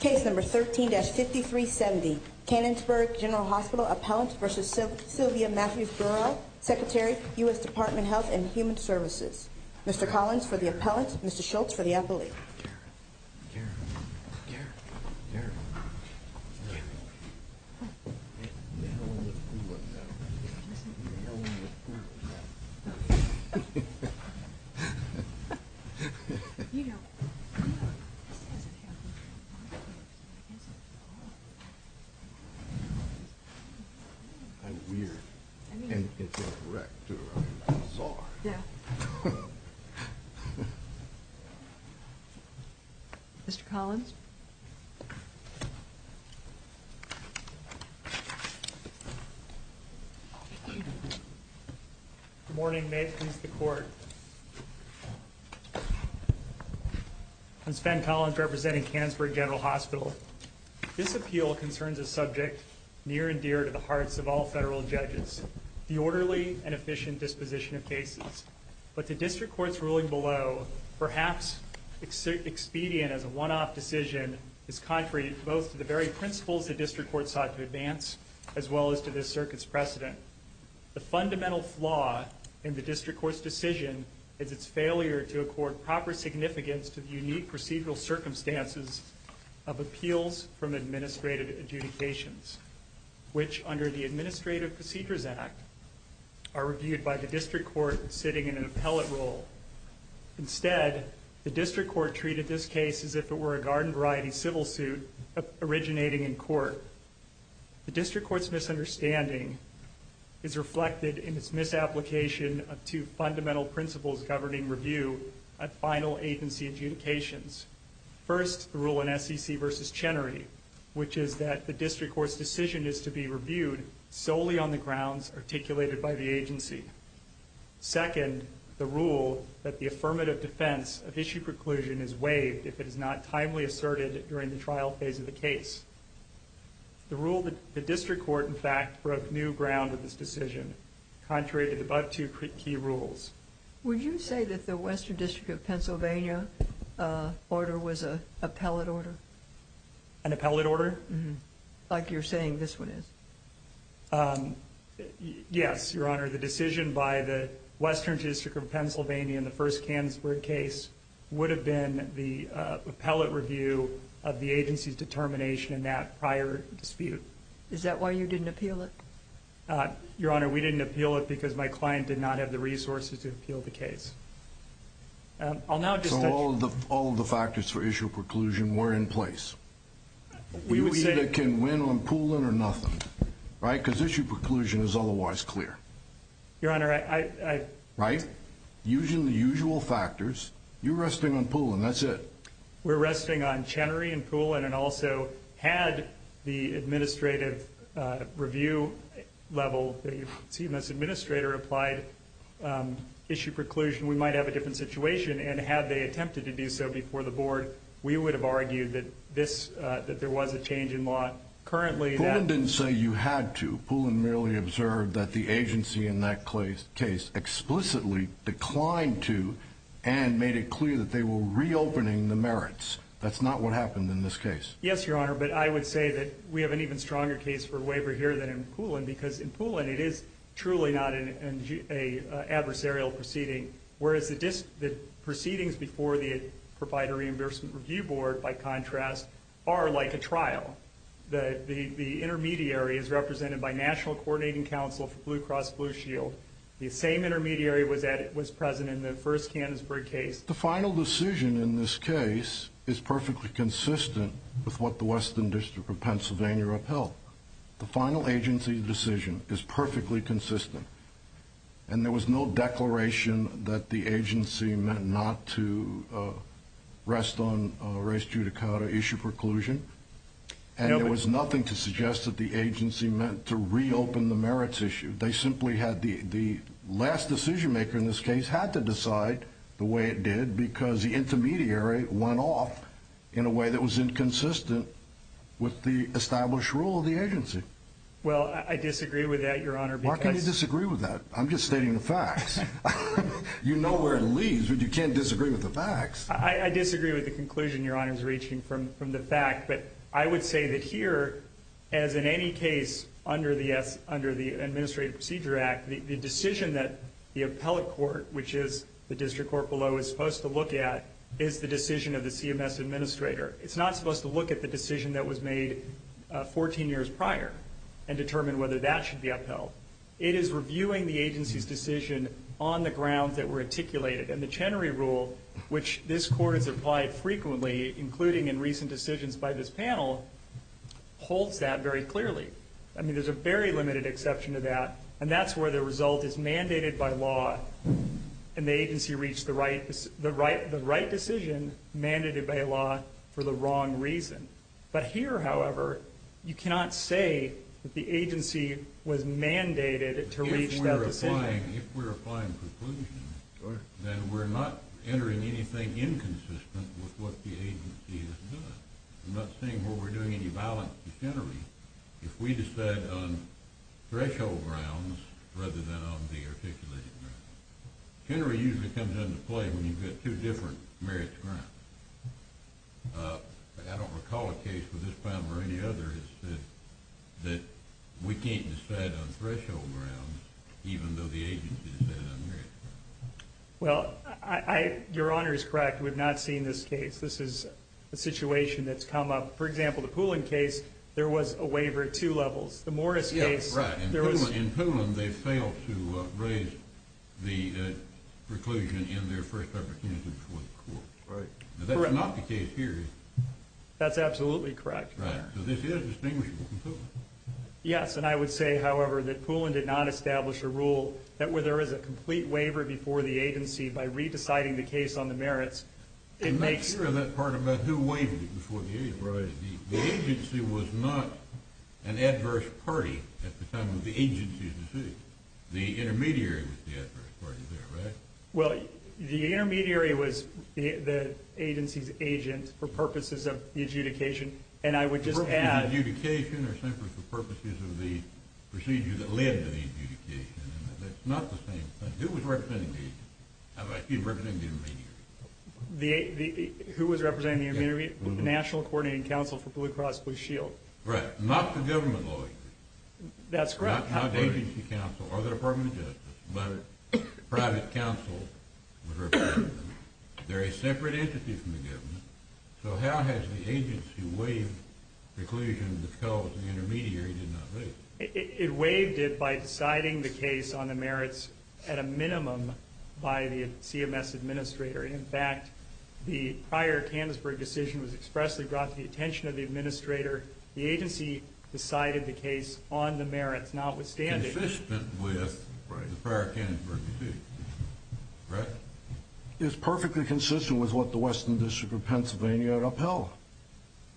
Case number 13-5370, Canonsburg General Hospital appellant v. Sylvia Mathews Burwell, Secretary, U.S. Department of Health and Human Services. Mr. Collins for the appellant, Mr. Schultz for the appellate. Mr. Collins. Good morning. May it please the court. I'm Sven Collins representing Canonsburg General Hospital. This appeal concerns a subject near and dear to the hearts of all federal judges, the orderly and efficient disposition of cases. But the district court's ruling below, perhaps expedient as a one-off decision, is contrary both to the very principles the district court sought to advance as well as to this circuit's precedent. The fundamental flaw in the district court's decision is its failure to accord proper significance to the unique procedural circumstances of appeals from administrative adjudications, which under the Administrative Procedures Act are reviewed by the district court sitting in an appellate role. Instead, the district court treated this case as if it were a garden variety civil suit originating in court. The district court's misunderstanding is reflected in its misapplication of two fundamental principles governing review at final agency adjudications. First, the rule in SEC v. Chenery, which is that the district court's decision is to be reviewed solely on the grounds articulated by the agency. Second, the rule that the affirmative defense of issue preclusion is waived if it is not timely asserted during the trial phase of the case. The rule that the district court, in fact, broke new ground in this decision, contrary to the above two key rules. Would you say that the Western District of Pennsylvania order was an appellate order? An appellate order? Like you're saying this one is. Yes, Your Honor. The decision by the Western District of Pennsylvania in the first Cansford case would have been the appellate review of the agency's determination in that prior dispute. Is that why you didn't appeal it? Your Honor, we didn't appeal it because my client did not have the resources to appeal the case. I'll now just... So all of the factors for issue preclusion were in place. We either can win on Poulin or nothing, right? Because issue preclusion is otherwise clear. Your Honor, I... Right? Using the usual factors. You're resting on Poulin. That's it. We're resting on Chenery and Poulin. and also had the administrative review level, the CMS administrator applied issue preclusion, we might have a different situation. And had they attempted to do so before the board, we would have argued that there was a change in law. Currently, that... Poulin didn't say you had to. Poulin merely observed that the agency in that case explicitly declined to and made it clear that they were reopening the merits. That's not what happened in this case. Yes, Your Honor, but I would say that we have an even stronger case for waiver here than in Poulin because in Poulin, it is truly not an adversarial proceeding. Whereas the proceedings before the Provider Reimbursement Review Board, by contrast, are like a trial. The intermediary is represented by National Coordinating Council for Blue Cross Blue Shield. The same intermediary was present in the first Cannonsburg case. The final decision in this case is perfectly consistent with what the Western District of Pennsylvania upheld. The final agency decision is perfectly consistent. And there was no declaration that the agency meant not to rest on Reyes-Judicata issue preclusion. And there was nothing to suggest that the agency meant to reopen the merits issue. They simply had the last decision maker in this case had to decide the way it did because the intermediary went off in a way that was inconsistent with the established rule of the agency. Well, I disagree with that, Your Honor. Why can you disagree with that? I'm just stating the facts. You know where it leads, but you can't disagree with the facts. I disagree with the conclusion Your Honor is reaching from the fact. But I would say that here, as in any case under the Administrative Procedure Act, the decision that the appellate court, which is the district court below, is supposed to look at is the decision of the CMS administrator. It's not supposed to look at the decision that was made 14 years prior and determine whether that should be upheld. It is reviewing the agency's decision on the grounds that were articulated. And the Chenery Rule, which this Court has applied frequently, including in recent decisions by this panel, holds that very clearly. I mean, there's a very limited exception to that, and that's where the result is mandated by law and the agency reached the right decision mandated by law for the wrong reason. But here, however, you cannot say that the agency was mandated to reach that decision. If we're applying conclusion, then we're not entering anything inconsistent with what the agency has done. I'm not saying we're doing any violence to Chenery if we decide on threshold grounds rather than on the articulated grounds. Chenery usually comes into play when you get two different merits grounds. I don't recall a case with this panel or any other that we can't decide on threshold grounds even though the agency decided on the merits. Well, your Honor is correct. We've not seen this case. This is a situation that's come up. For example, the Poulin case, there was a waiver at two levels. The Morris case, there was... Yeah, right. In Poulin, they failed to raise the preclusion in their first opportunity before the Court. That's not the case here. That's absolutely correct, Your Honor. So this is distinguishable from Poulin. Yes, and I would say, however, that Poulin did not establish a rule that where there is a complete waiver before the agency by re-deciding the case on the merits, it makes... I'm not sure of that part about who waived it before the agency. The agency was not an adverse party at the time of the agency's decision. The intermediary was the adverse party there, right? Well, the intermediary was the agency's agent for purposes of the adjudication, and I would just add... for purposes of the procedure that led to the adjudication. That's not the same thing. Who was representing the agency? I'm sorry, who was representing the intermediary? Who was representing the intermediary? The National Coordinating Council for Blue Cross Blue Shield. Right. Not the government lawyers. That's correct. Not the agency counsel or the Department of Justice, but a private counsel was representing them. They're a separate entity from the government, so how has the agency waived the preclusion that tells the intermediary did not waive it? It waived it by deciding the case on the merits at a minimum by the CMS administrator. In fact, the prior Tannensburg decision was expressly brought to the attention of the administrator. The agency decided the case on the merits notwithstanding. Consistent with the prior Tannensburg decision, correct? It's perfectly consistent with what the Western District of Pennsylvania had upheld.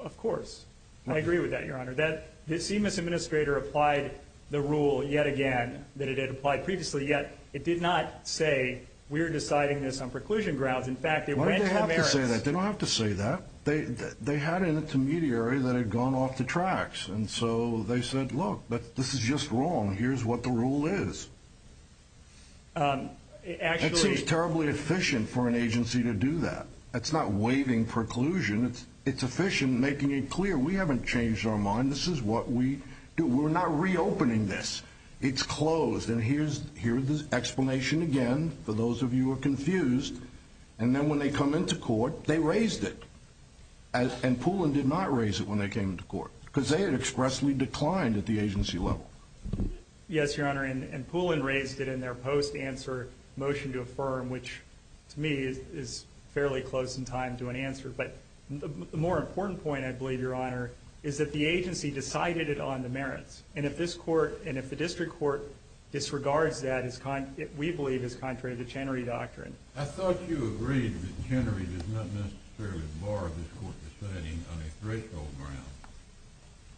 Of course. I agree with that, Your Honor. The CMS administrator applied the rule yet again that it had applied previously, yet it did not say we're deciding this on preclusion grounds. In fact, it went to the merits. Why did they have to say that? They don't have to say that. They had an intermediary that had gone off the tracks, and so they said, look, this is just wrong. Here's what the rule is. It seems terribly efficient for an agency to do that. It's not waiving preclusion. It's efficient in making it clear we haven't changed our mind. This is what we do. We're not reopening this. It's closed, and here's the explanation again for those of you who are confused. And then when they come into court, they raised it, and Poulin did not raise it when they came into court because they had expressly declined at the agency level. Yes, Your Honor, and Poulin raised it in their post-answer motion to affirm, which to me is fairly close in time to an answer. But the more important point, I believe, Your Honor, is that the agency decided it on the merits, and if the district court disregards that, we believe it's contrary to the Chenery Doctrine. I thought you agreed that Chenery does not necessarily bar this court deciding on a threshold ground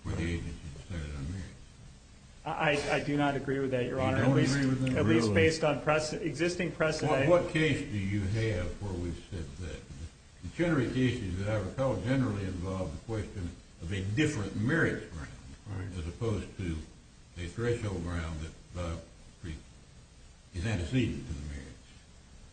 where the agency decided on merits. I do not agree with that, Your Honor, at least based on existing precedent. Well, what case do you have where we've said that? The Chenery cases that I recall generally involve the question of a different merits ground as opposed to a threshold ground that is antecedent to the merits.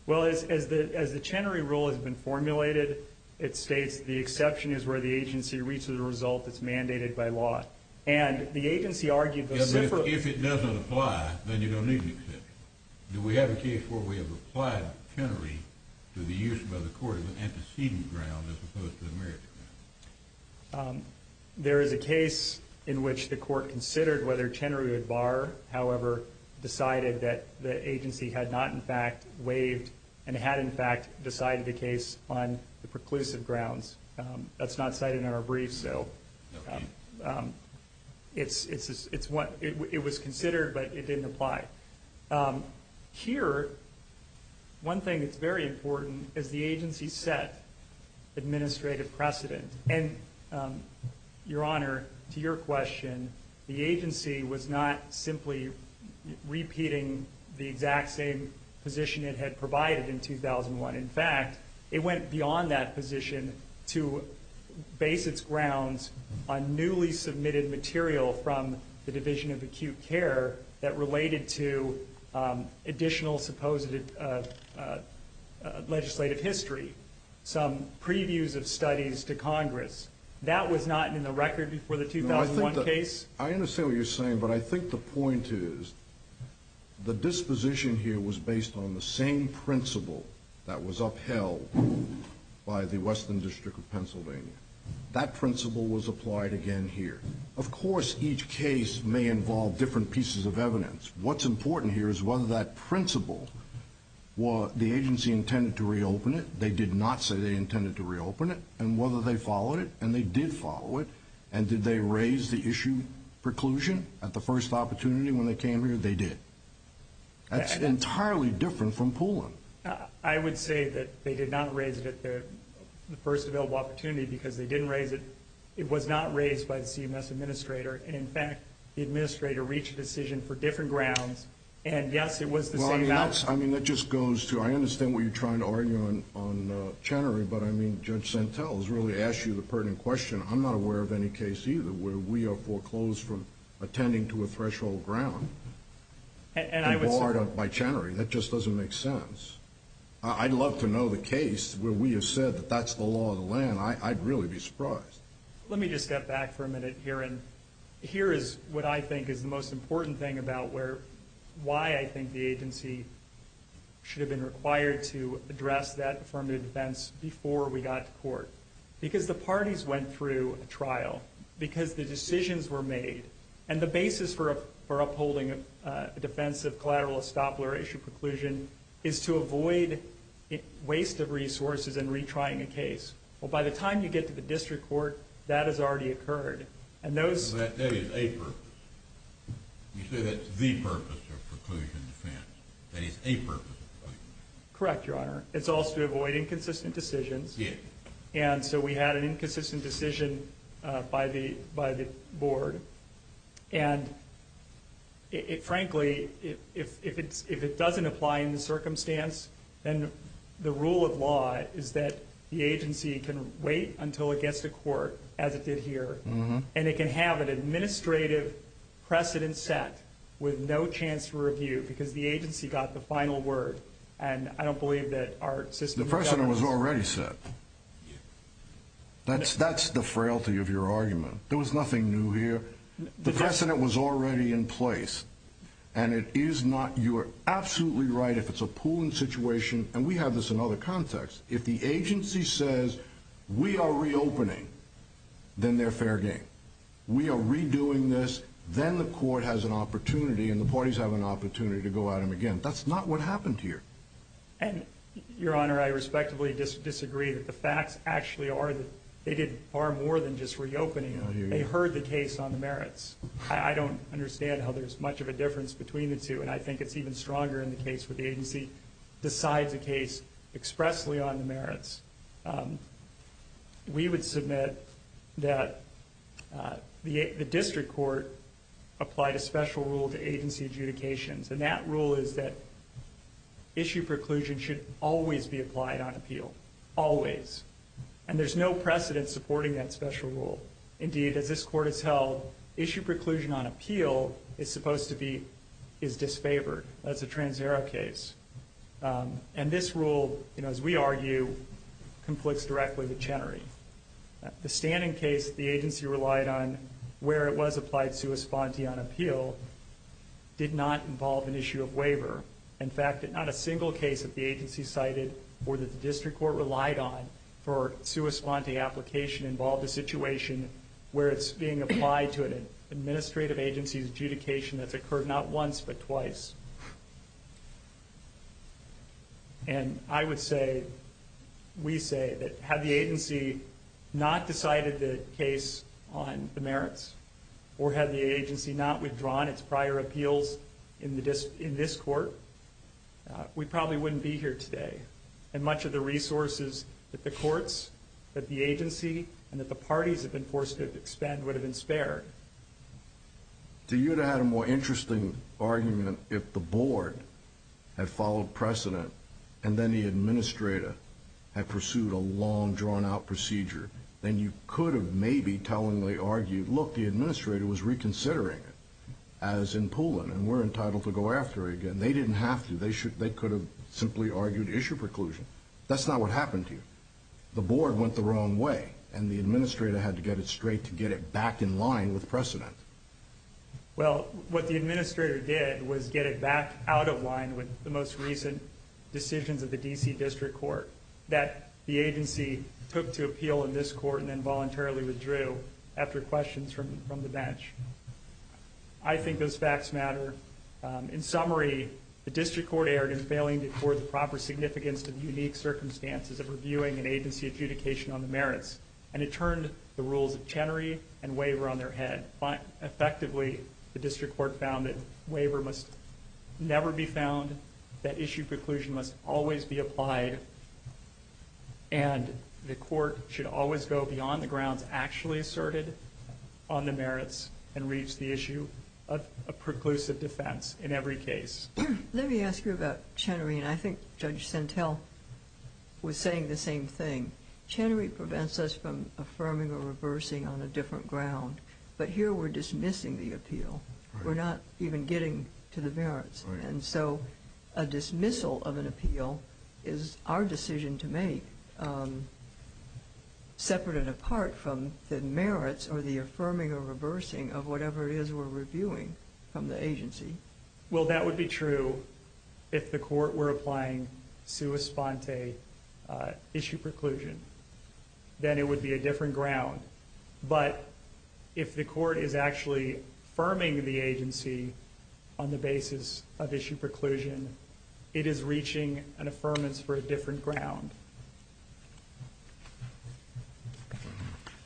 Well, as the Chenery rule has been formulated, it states the exception is where the agency reaches a result that's mandated by law. And the agency argued a different- If it doesn't apply, then you don't need an exception. Do we have a case where we have applied Chenery to the use by the court of an antecedent ground as opposed to a merits ground? There is a case in which the court considered whether Chenery would bar, however, decided that the agency had not, in fact, waived and had, in fact, decided a case on the preclusive grounds. That's not cited in our brief, so it was considered, but it didn't apply. Here, one thing that's very important is the agency set administrative precedent. And, Your Honor, to your question, the agency was not simply repeating the exact same position it had provided in 2001. In fact, it went beyond that position to base its grounds on newly submitted material from the Division of Acute Care that related to additional supposed legislative history, some previews of studies to Congress. That was not in the record before the 2001 case. I understand what you're saying, but I think the point is the disposition here was based on the same principle that was upheld by the Western District of Pennsylvania. That principle was applied again here. Of course, each case may involve different pieces of evidence. What's important here is whether that principle, the agency intended to reopen it, they did not say they intended to reopen it, and whether they raised the issue preclusion at the first opportunity when they came here, they did. That's entirely different from Poulin. I would say that they did not raise it at the first available opportunity because they didn't raise it. It was not raised by the CMS administrator, and in fact, the administrator reached a decision for different grounds, and yes, it was the same balance. I mean, that just goes to, I understand what you're trying to argue on Chenery, but I mean, Judge Santel has really asked you the pertinent question. I'm not aware of any case either where we are foreclosed from attending to a threshold ground. And barred by Chenery. That just doesn't make sense. I'd love to know the case where we have said that that's the law of the land. I'd really be surprised. Let me just step back for a minute here, and here is what I think is the most important thing about why I think the agency should have been trial, because the decisions were made, and the basis for upholding a defense of collateral estoppel or issue preclusion is to avoid waste of resources in retrying a case. Well, by the time you get to the district court, that has already occurred, and those That is a purpose. You say that's the purpose of preclusion defense. That is a purpose of preclusion defense. Correct, Your Honor. It's also to avoid inconsistent decisions. Yes. And so we had an inconsistent decision by the board, and frankly, if it doesn't apply in the circumstance, then the rule of law is that the agency can wait until it gets to court, as it did here, and it can have an administrative precedent set with no chance to review because the agency got the final word, and I don't believe that our system The precedent was already set. That's the frailty of your argument. There was nothing new here. The precedent was already in place, and it is not. You are absolutely right if it's a pooling situation, and we have this in other contexts. If the agency says we are reopening, then they're fair game. We are redoing this. Then the court has an opportunity, and the parties have an opportunity to go at them again. That's not what happened here. Your Honor, I respectfully disagree that the facts actually are that they did far more than just reopening. They heard the case on the merits. I don't understand how there's much of a difference between the two, and I think it's even stronger in the case where the agency decides a case expressly on the merits. We would submit that the district court applied a special rule to agency adjudications, and that rule is that issue preclusion should always be applied on appeal. Always. And there's no precedent supporting that special rule. Indeed, as this court has held, issue preclusion on appeal is supposed to be is disfavored. That's a TransAero case. And this rule, as we argue, conflicts directly with Chenery. The standing case the agency relied on where it was applied sui sponte on appeal did not involve an issue of waiver. In fact, not a single case that the agency cited or that the district court relied on for sui sponte application involved a situation where it's being applied to an administrative agency's adjudication that's occurred not once but twice. And I would say, we say, that had the agency not decided the case on the merits, or had the agency not withdrawn its prior appeals in this court, we probably wouldn't be here today. And much of the resources that the courts, that the agency, and that the parties have been forced to expend would have been spared. To you, it would have had a more interesting argument if the board had followed precedent and then the administrator had pursued a long, drawn-out procedure. Then you could have maybe tellingly argued, look, the administrator was reconsidering it, as in Pulin, and we're entitled to go after it again. They didn't have to. They could have simply argued issue preclusion. That's not what happened to you. The board went the wrong way, and the administrator had to get it straight to get it back in line with precedent. Well, what the administrator did was get it back out of line with the most recent decisions of the D.C. District Court that the agency took to appeal in this court and then voluntarily withdrew after questions from the bench. I think those facts matter. In summary, the District Court erred in failing to afford the proper significance to the unique circumstances of reviewing an agency adjudication on the merits, and it turned the rules of Chenery and Waiver on their head. Effectively, the District Court found that Waiver must never be found, that issue preclusion must always be applied, and the court should always go beyond the grounds actually asserted on the merits and reach the issue of preclusive defense in every case. Let me ask you about Chenery, and I think Judge Sentelle was saying the same thing. Chenery prevents us from affirming or reversing on a different ground, but here we're dismissing the appeal. We're not even getting to the merits, and so a dismissal of an appeal is our decision to make, separate and apart from the merits or the affirming or reversing of whatever it is we're reviewing from the agency. Well, that would be true if the court were applying sua sponte issue preclusion. Then it would be a different ground. But if the court is actually affirming the agency on the basis of issue preclusion, it is reaching an affirmance for a different ground.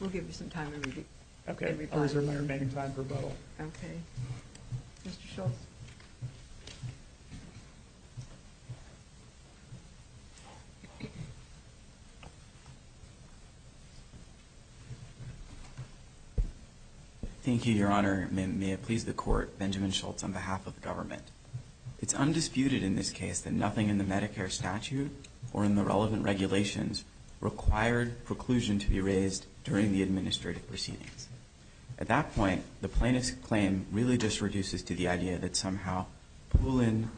We'll give you some time to review. Okay, I'll reserve my remaining time for both. Okay. Mr. Schultz. Thank you, Your Honor. May it please the Court, Benjamin Schultz on behalf of the government. It's undisputed in this case that nothing in the Medicare statute or in the relevant regulations required preclusion to be raised during the administrative proceedings. At that point, the plaintiff's claim really just reduces to the idea that somehow Poulin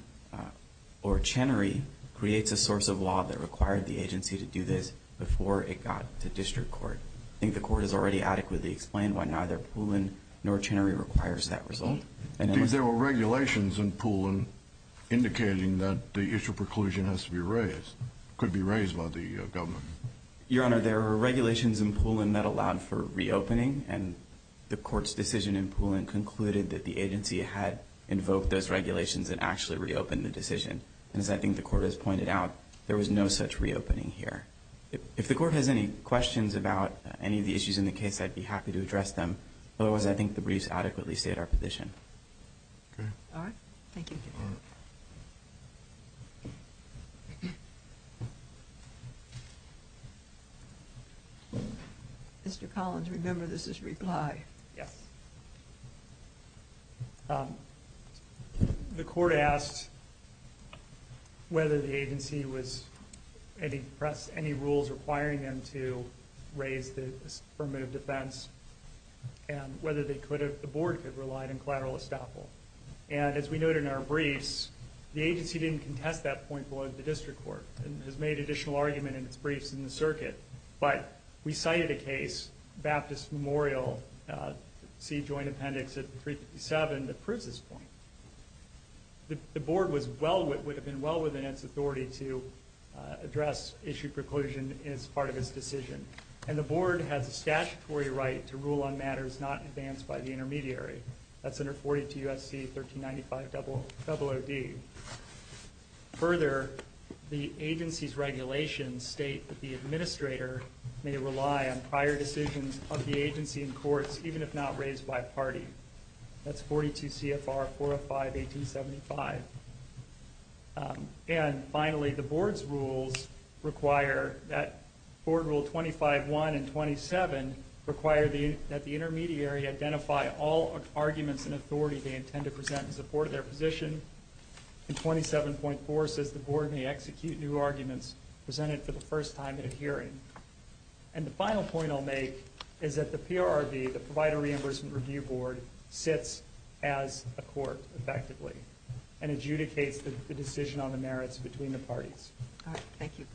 or Chenery creates a source of law that required the agency to do this before it got to district court. I think the court has already adequately explained why neither Poulin nor Chenery requires that result. There were regulations in Poulin indicating that the issue of preclusion has to be raised, could be raised by the government. Your Honor, there were regulations in Poulin that allowed for reopening, and the court's decision in Poulin concluded that the agency had invoked those regulations and actually reopened the decision. And as I think the court has pointed out, there was no such reopening here. If the court has any questions about any of the issues in the case, I'd be happy to address them. Otherwise, I think the briefs adequately state our position. Okay. All right. Thank you. Thank you, Your Honor. Mr. Collins, remember this is reply. Yes. The court asked whether the agency was any rules requiring them to raise the affirmative defense and whether the board could rely on collateral estoppel. And as we noted in our briefs, the agency didn't contest that point below the district court and has made additional argument in its briefs in the circuit. But we cited a case, Baptist Memorial C Joint Appendix 357, that proves this point. The board would have been well within its authority to address issue preclusion as part of its decision. And the board has a statutory right to rule on matters not advanced by the intermediary. That's under 42 U.S.C. 1395-00D. Further, the agency's regulations state that the administrator may rely on prior decisions of the agency in courts, even if not raised by party. That's 42 CFR 405-1875. And finally, the board's rules require that board rule 25-1 and 27 require that the intermediary identify all arguments in authority they intend to present in support of their position. And 27.4 says the board may execute new arguments presented for the first time in a hearing. And the final point I'll make is that the PRRV, the Provider Reimbursement Review Board, sits as a court effectively and adjudicates the decision on the merits between the parties. Thank you.